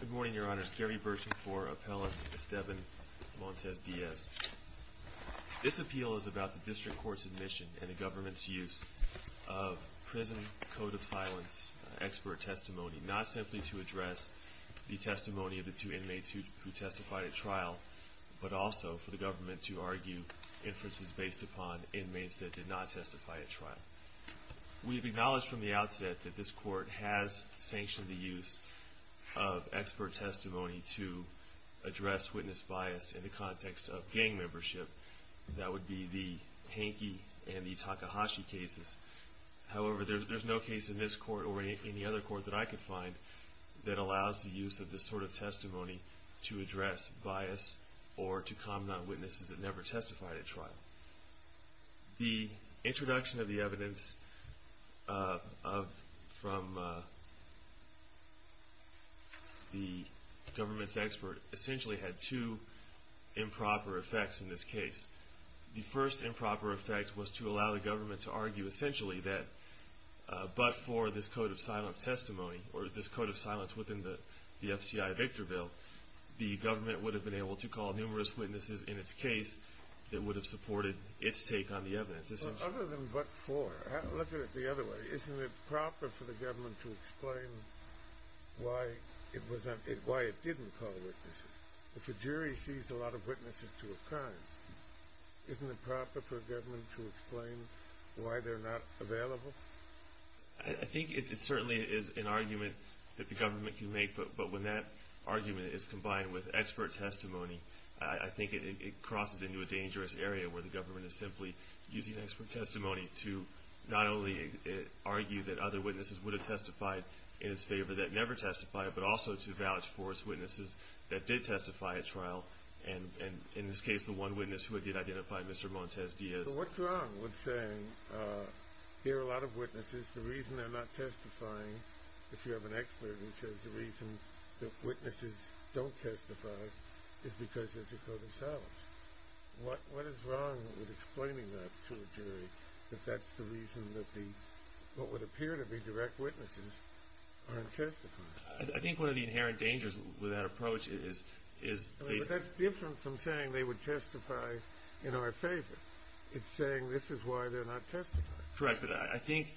Good morning, Your Honors. Gary Burson for Appellants Esteban Montes-Diaz. This appeal is about the district court's admission and the government's use of prison code of silence expert testimony, not simply to address the testimony of the two inmates who testified at trial, but also for the government to argue inferences based upon inmates that did not testify at trial. We've acknowledged from the outset that this court has sanctioned the use of expert testimony to address witness bias in the context of gang membership. That would be the Hankey and the Takahashi cases. However, there's no case in this court or any other court that I could find that allows the use of this sort of testimony to address bias or to comment on witnesses that never testified at trial. The introduction of the evidence from the government's expert essentially had two improper effects in this case. The first improper effect was to allow the government to argue essentially that but for this code of silence testimony, or this code of silence within the FCI Victor Bill, the government would have been able to call numerous witnesses in its case that would have supported its take on the evidence. Other than but for, look at it the other way. Isn't it proper for the government to explain why it didn't call witnesses? If a jury sees a lot of witnesses to a crime, isn't it proper for government to explain why they're not available? I think it certainly is an argument that the government can make, but when that argument is combined with expert testimony, I think it crosses into a dangerous area where the government is simply using expert testimony to not only argue that other witnesses would have testified in its favor that never testified, but also to vouch for its witnesses that did testify at trial, and in this case, the one witness who did identify Mr. Montes Diaz. So what's wrong with saying, here are a lot of witnesses, the reason they're not testifying, if you have an expert who says the reason that witnesses don't testify is because there's a code of silence? What is wrong with explaining that to a jury, that that's the reason that what would appear to be direct witnesses aren't testifying? I think one of the inherent dangers with that approach is... That's different from saying they would testify in our favor. It's saying this is why they're not testifying. Correct, but I think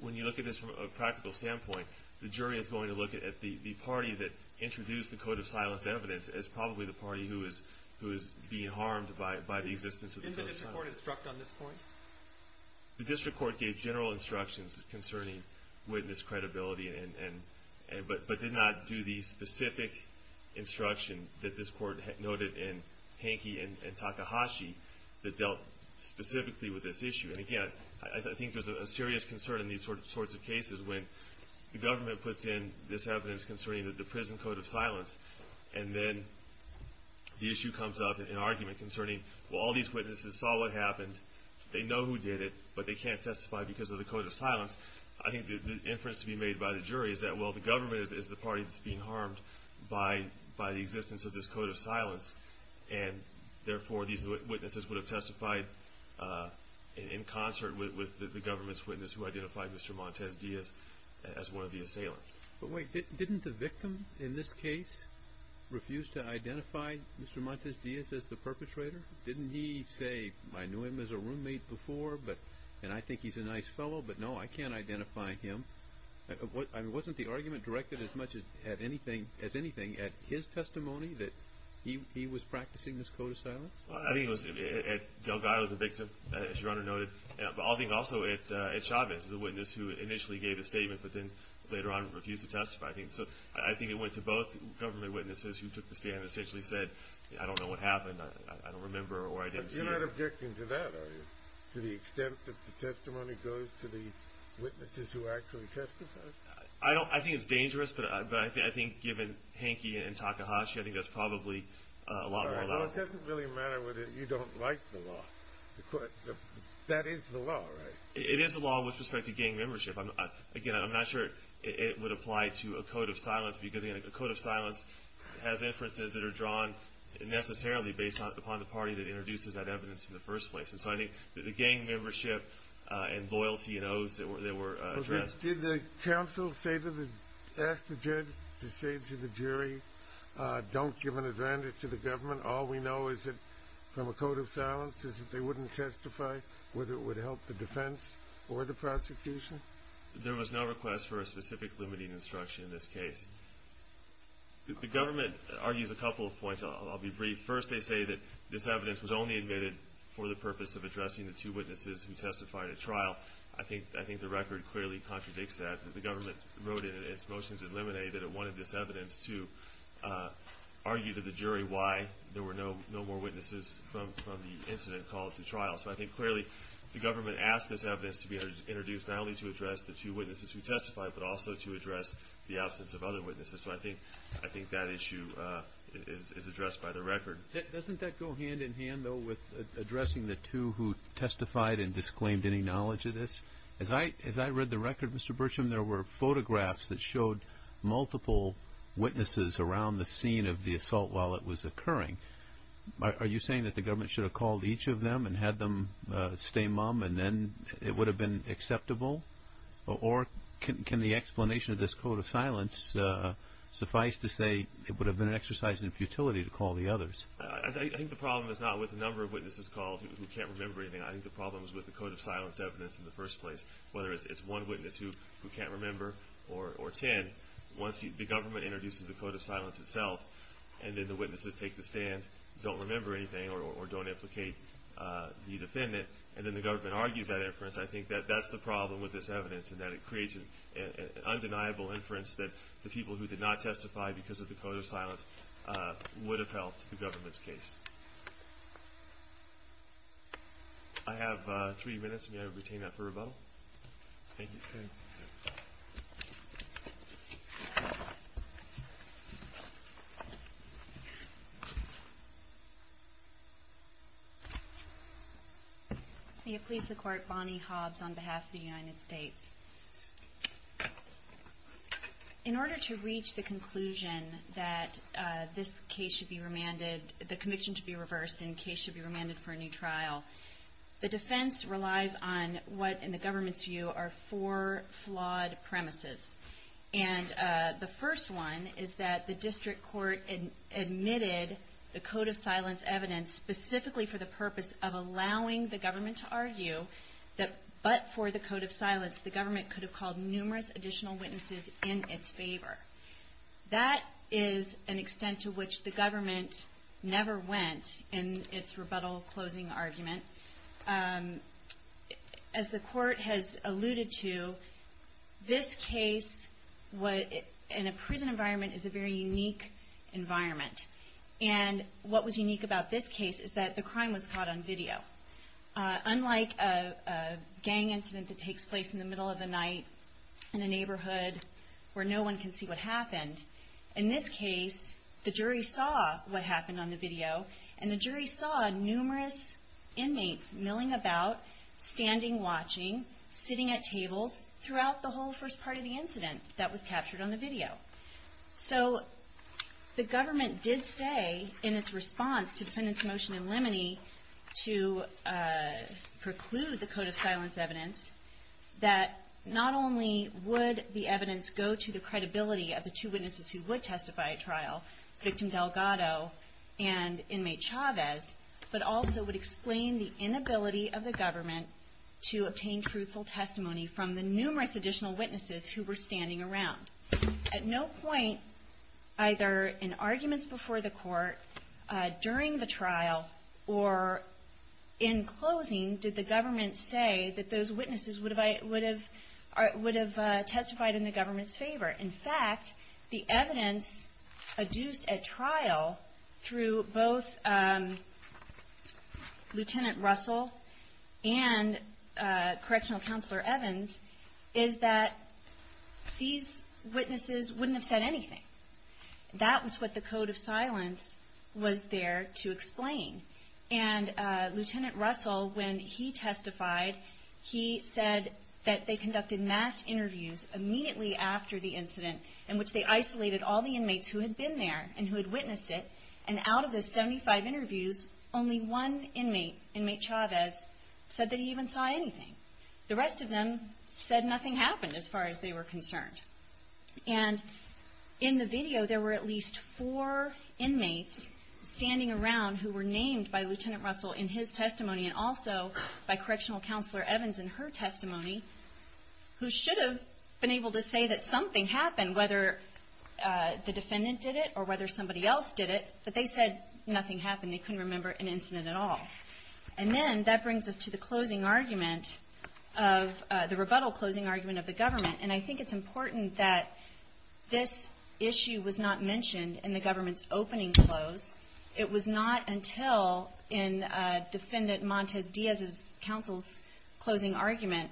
when you look at this from a practical standpoint, the jury is going to look at the party that introduced the code of silence evidence as probably the party who is being harmed by the existence of the code of silence. Didn't the district court instruct on this point? The district court gave general instructions concerning witness credibility, but did not do the specific instruction that this court noted in Hankey and Takahashi that dealt specifically with this issue. And again, I think there's a serious concern in these sorts of cases when the government puts in this evidence concerning the prison code of silence, and then the issue comes up in an argument concerning, well, all these witnesses saw what happened, they know who did it, but they can't testify because of the code of silence. I think the inference to be made by the jury is that, well, the government is the party that's being harmed by the existence of this code of silence, and therefore these witnesses would have testified in concert with the government's witness who identified Mr. Montes Diaz as one of the assailants. But wait, didn't the victim in this case refuse to identify Mr. Montes Diaz as the perpetrator? Didn't he say, I knew him as a roommate before, and I think he's a nice fellow, but no, I can't identify him. I mean, wasn't the argument directed as much as anything at his testimony that he was practicing this code of silence? I think it was at Delgado, the victim, as your Honor noted, but I think also at Chavez, the witness who initially gave a statement but then later on refused to testify. So I think it went to both government witnesses who took the stand and essentially said, I don't know what happened, I don't remember, or I didn't see it. You're not objecting to that, are you? To the extent that the testimony goes to the witnesses who actually testified? I think it's dangerous, but I think given Hankey and Takahashi, I think that's probably a lot more allowed. Well, it doesn't really matter whether you don't like the law. That is the law, right? It is the law with respect to gang membership. Again, I'm not sure it would apply to a code of silence because, again, a code of silence has inferences that are drawn necessarily based upon the party that introduces that evidence in the first place. And so I think that the gang membership and loyalty and oaths that were addressed... Did the counsel ask the judge to say to the jury, don't give an advantage to the government? All we know is that from a code of silence is that they wouldn't testify, whether it would help the defense or the prosecution? There was no request for a specific limiting instruction in this case. The government argues a couple of points. I'll be brief. First, they say that this evidence was only admitted for the purpose of addressing the two witnesses who testified at trial. I think the record clearly contradicts that. The government wrote in its motions in Lemonet that it wanted this evidence to argue to the jury why there were no more witnesses from the incident called to trial. So I think clearly the government asked this evidence to be introduced not only to address the two witnesses who testified, but also to address the absence of other witnesses. So I think that issue is addressed by the record. Doesn't that go hand in hand, though, with addressing the two who testified and disclaimed any knowledge of this? As I read the record, Mr. Burcham, there were photographs that showed multiple witnesses around the scene of the assault while it was occurring. Are you saying that the government should have called each of them and had them stay mum and then it Or can the explanation of this code of silence suffice to say it would have been an exercise in futility to call the others? I think the problem is not with the number of witnesses called who can't remember anything. I think the problem is with the code of silence evidence in the first place. Whether it's one witness who can't remember or ten, once the government introduces the code of silence itself and then the witnesses take the stand, don't remember anything or don't implicate the defendant, and then the government argues that inference, I think that that's the problem with this evidence and that it creates an undeniable inference that the people who did not testify because of the code of silence would have helped the government's case. I have three minutes. May I retain that for rebuttal? Thank you. May it please the Court, Bonnie Hobbs on behalf of the United States. In order to reach the conclusion that this case should be remanded, the conviction should be reversed and the case should be remanded for a new trial, the defense relies on what in the government's view are four flawed premises. And the first one is that the district court admitted the code of silence evidence specifically for the purpose of allowing the government to argue that but for the code of silence the government could have called numerous additional witnesses in its favor. That is an extent to which the government never went in its rebuttal closing argument. As the Court has alluded to, this case in a prison environment is a very unique environment. And what was unique about this case is that the crime was caught on video. Unlike a gang incident that takes place in the middle of the night in a neighborhood where no one can see what happened, in this case the jury saw what happened on the video and the jury saw numerous inmates milling about, standing watching, sitting at tables throughout the whole first part of the incident that was captured on the video. So the government did say in its response to the defendant's motion in Lemony to preclude the code of silence evidence that not only would the evidence go to the credibility of the two witnesses who would testify at trial, victim Delgado and inmate Chavez, but also would explain the inability of the government to obtain truthful testimony from the numerous additional witnesses who were standing around. At no point, either in arguments before the court, during the trial, or in closing, did the government say that those witnesses would have testified in the government's favor. In fact, the evidence adduced at trial through both Lieutenant Russell and Correctional Counselor Evans is that these witnesses wouldn't have said anything. That was what the code of silence was there to explain. And Lieutenant Russell, when he testified, he said that they conducted mass interviews immediately after the incident in which they isolated all the inmates who had been there and who had witnessed it, and out of those 75 interviews, only one inmate, inmate Chavez, said that he even saw anything. The rest of them said nothing happened as far as they were concerned. And in the video, there were at least four inmates standing around who were named by Lieutenant Russell in his testimony and also by Correctional Counselor Evans in her testimony who should have been able to say that something happened, whether the defendant did it or whether somebody else did it, but they said nothing happened. They couldn't remember an incident at all. And then that brings us to the closing argument, the rebuttal closing argument of the government. And I think it's important that this issue was not mentioned in the government's opening close. It was not until in Defendant Montes Diaz's counsel's closing argument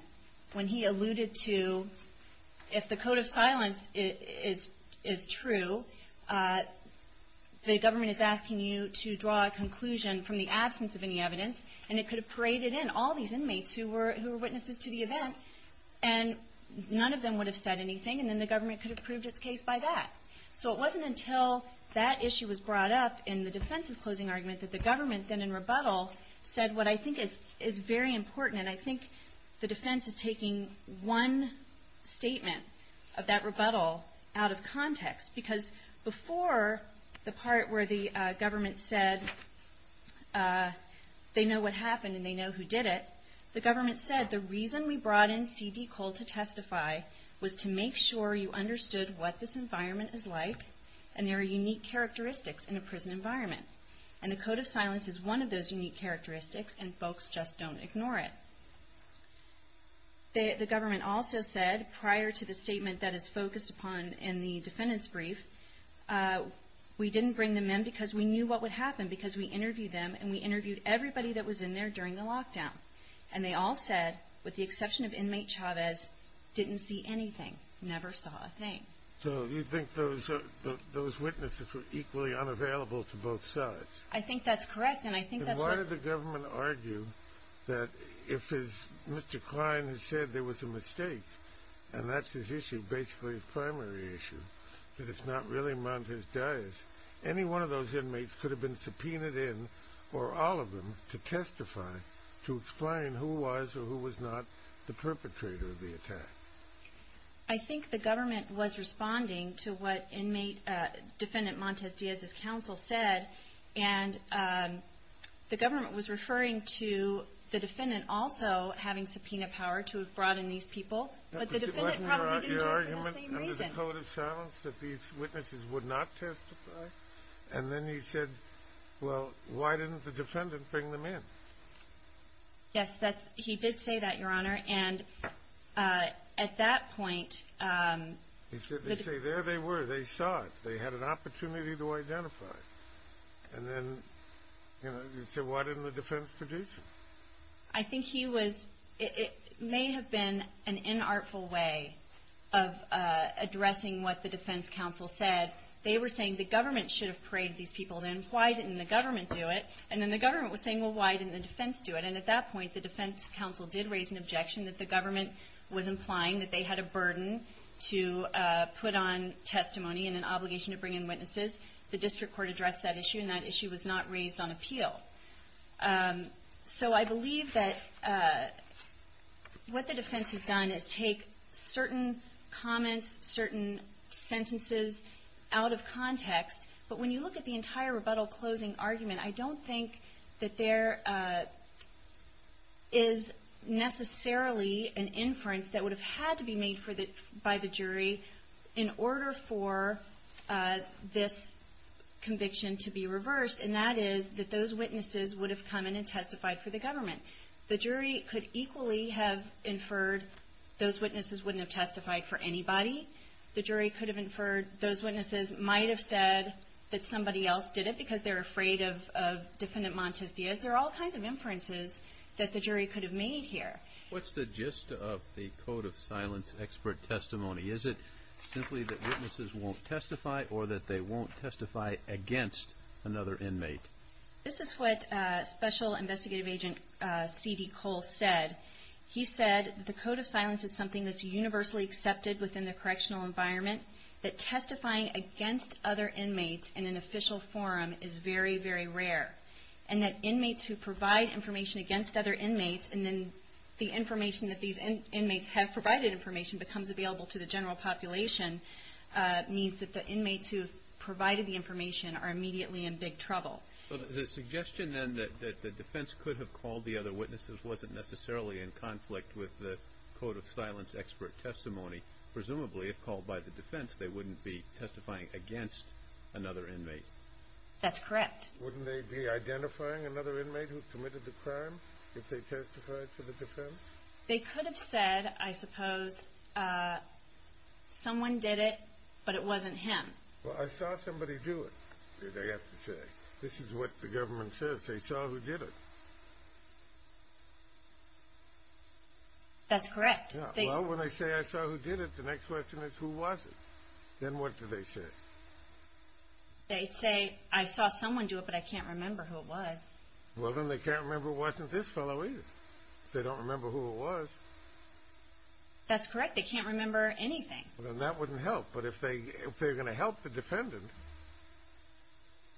when he alluded to if the code of silence is true, the government is asking you to draw a conclusion from the absence of any evidence, and it could have paraded in all these inmates who were witnesses to the event, and none of them would have said anything, and then the government could have proved its case by that. So it wasn't until that issue was brought up in the defense's closing argument that the government then in rebuttal said what I think is very important, and I think the defense is taking one statement of that rebuttal out of context, because before the part where the government said they know what happened and they know who did it, the government said the reason we brought in C.D. Cole to testify was to make sure you understood what this environment is like, and there are unique characteristics in a prison environment. And the code of silence is one of those unique characteristics, and folks just don't ignore it. The government also said prior to the statement that is focused upon in the defendant's brief, we didn't bring them in because we knew what would happen, because we interviewed them, and we interviewed everybody that was in there during the lockdown. And they all said, with the exception of inmate Chavez, didn't see anything, never saw a thing. So you think those witnesses were equally unavailable to both sides? I think that's correct, and I think that's right. Then why did the government argue that if Mr. Klein had said there was a mistake, and that's his issue, basically his primary issue, that it's not really on his dias, any one of those inmates could have been subpoenaed in, or all of them, to testify to explain who was or who was not the perpetrator of the attack. I think the government was responding to what Defendant Montes Diaz's counsel said, and the government was referring to the defendant also having subpoena power to have brought in these people, but the defendant probably didn't do it for the same reason. He put out a code of silence that these witnesses would not testify, and then he said, well, why didn't the defendant bring them in? Yes, he did say that, Your Honor, and at that point... He said, they say, there they were, they saw it, they had an opportunity to identify it. And then, you know, he said, why didn't the defense produce it? I think he was, it may have been an inartful way of addressing what the defense counsel said. They were saying the government should have prayed these people in. Why didn't the government do it? And then the government was saying, well, why didn't the defense do it? And at that point, the defense counsel did raise an objection that the government was implying that they had a burden to put on testimony and an obligation to bring in witnesses. The district court addressed that issue, and that issue was not raised on appeal. So I believe that what the defense has done is take certain comments, certain sentences out of context, but when you look at the entire rebuttal closing argument, I don't think that there is necessarily an inference that would have had to be made by the jury in order for this conviction to be reversed, and that is that those witnesses would have come in and testified for the government. The jury could equally have inferred those witnesses wouldn't have testified for anybody. The jury could have inferred those witnesses might have said that somebody else did it because they're afraid of Defendant Montes Dias. There are all kinds of inferences that the jury could have made here. What's the gist of the Code of Silence expert testimony? Is it simply that witnesses won't testify or that they won't testify against another inmate? This is what Special Investigative Agent C.D. Cole said. He said the Code of Silence is something that's universally accepted within the correctional environment, that testifying against other inmates in an official forum is very, very rare, and that inmates who provide information against other inmates and then the information that these inmates have provided information becomes available to the general population means that the inmates who have provided the information are immediately in big trouble. The suggestion then that the defense could have called the other witnesses wasn't necessarily in conflict with the Code of Silence expert testimony. Presumably, if called by the defense, they wouldn't be testifying against another inmate. That's correct. Wouldn't they be identifying another inmate who committed the crime if they testified to the defense? They could have said, I suppose, someone did it, but it wasn't him. Well, I saw somebody do it, they have to say. This is what the government says, they saw who did it. That's correct. Well, when they say, I saw who did it, the next question is, who was it? Then what do they say? They'd say, I saw someone do it, but I can't remember who it was. Well, then they can't remember it wasn't this fellow either. They don't remember who it was. That's correct. They can't remember anything. Then that wouldn't help. But if they're going to help the defendant,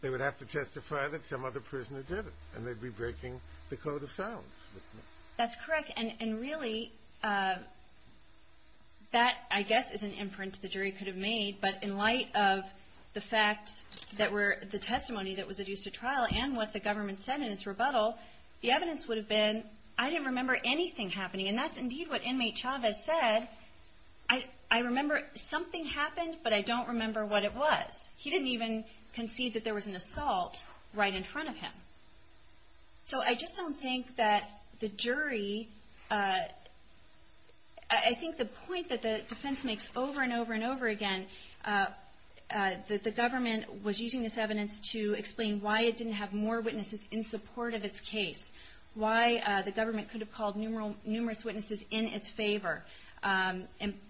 they would have to testify that some other prisoner did it, and they'd be breaking the Code of Silence. That's correct. And really, that, I guess, is an inference the jury could have made. But in light of the facts that were, the testimony that was adduced at trial, and what the government said in its rebuttal, the evidence would have been, I didn't remember anything happening. And that's indeed what inmate Chavez said. I remember something happened, but I don't remember what it was. He didn't even concede that there was an assault right in front of him. So I just don't think that the jury, I think the point that the defense makes over and over and over again, that the government was using this evidence to explain why it didn't have more witnesses in support of its case, why the government could have called numerous witnesses in its favor,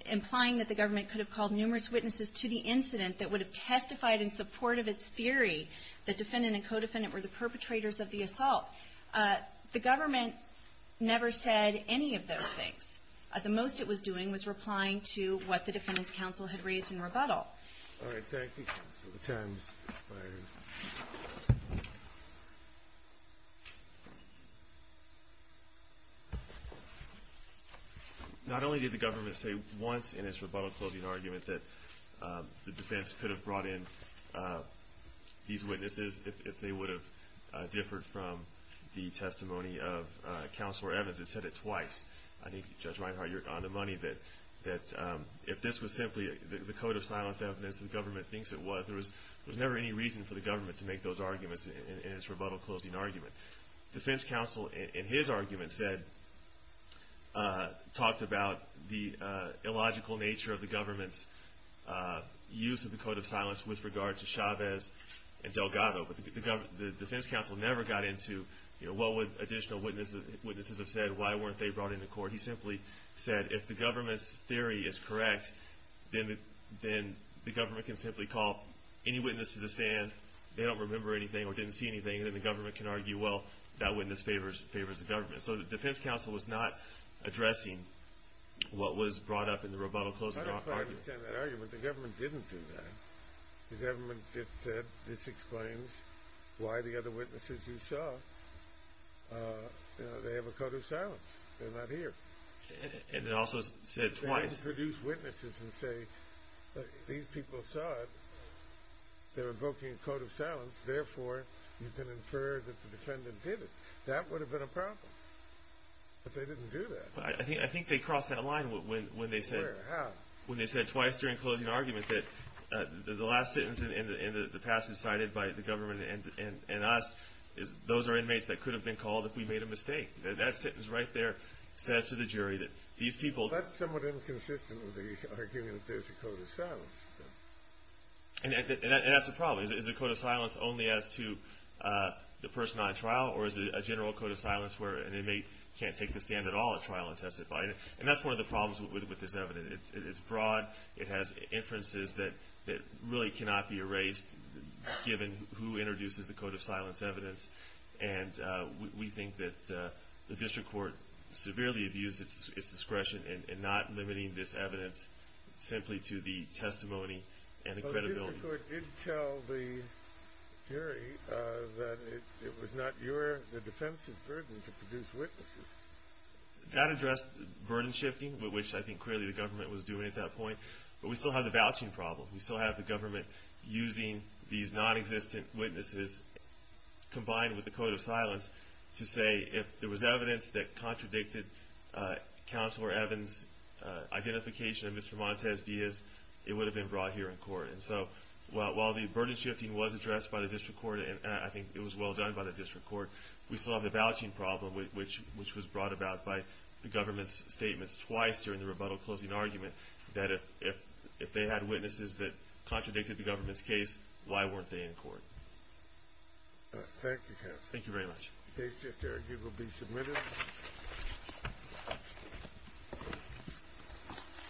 implying that the government could have called numerous witnesses to the incident that would have testified in support of its theory that defendant and co-defendant were the perpetrators of the assault. The government never said any of those things. The most it was doing was replying to what the defendant's counsel had raised in rebuttal. All right, thank you. The time is expired. Not only did the government say once in its rebuttal closing argument that the defense could have brought in these witnesses if they would have differed from the testimony of Counselor Evans, it said it twice. I think, Judge Reinhart, you're on the money that if this was simply the code of silence evidence that the government thinks it was, there was never any reason for the government to make those arguments in its rebuttal closing argument. Defense counsel, in his argument, talked about the illogical nature of the government's use of the code of silence with regard to Chavez and Delgado, but the defense counsel never got into what would additional witnesses have said, why weren't they brought into court. He simply said if the government's theory is correct, then the government can simply call any witness to the stand. They don't remember anything or didn't see anything, and then the government can argue, well, that witness favors the government. So the defense counsel was not addressing what was brought up in the rebuttal closing argument. I don't quite understand that argument. The government didn't do that. The government just said this explains why the other witnesses you saw, they have a code of silence. They're not here. And it also said twice. They didn't produce witnesses and say these people saw it. They're invoking a code of silence. Therefore, you can infer that the defendant did it. That would have been a problem. But they didn't do that. I think they crossed that line when they said. Where? How? When they said twice during closing argument that the last sentence in the passage cited by the government and us, those are inmates that could have been called if we made a mistake. That sentence right there says to the jury that these people. That's somewhat inconsistent with the argument that there's a code of silence. And that's the problem. Is it a code of silence only as to the person on trial, or is it a general code of silence where an inmate can't take the stand at all at trial and testify? And that's one of the problems with this evidence. It's broad. It has inferences that really cannot be erased given who introduces the code of silence evidence. And we think that the district court severely abused its discretion in not limiting this evidence simply to the testimony and the credibility. But the district court did tell the jury that it was not your, the defense's, burden to produce witnesses. That addressed burden shifting, which I think clearly the government was doing at that point. But we still have the vouching problem. We still have the government using these nonexistent witnesses combined with the code of silence to say if there was evidence that contradicted Counselor Evans' identification of Mr. Montes Diaz, it would have been brought here in court. And so while the burden shifting was addressed by the district court, and I think it was well done by the district court, we still have the vouching problem, which was brought about by the government's statements twice during the rebuttal closing argument that if they had witnesses that contradicted the government's case, why weren't they in court? Thank you, Counselor. Thank you very much. The case just argued will be submitted.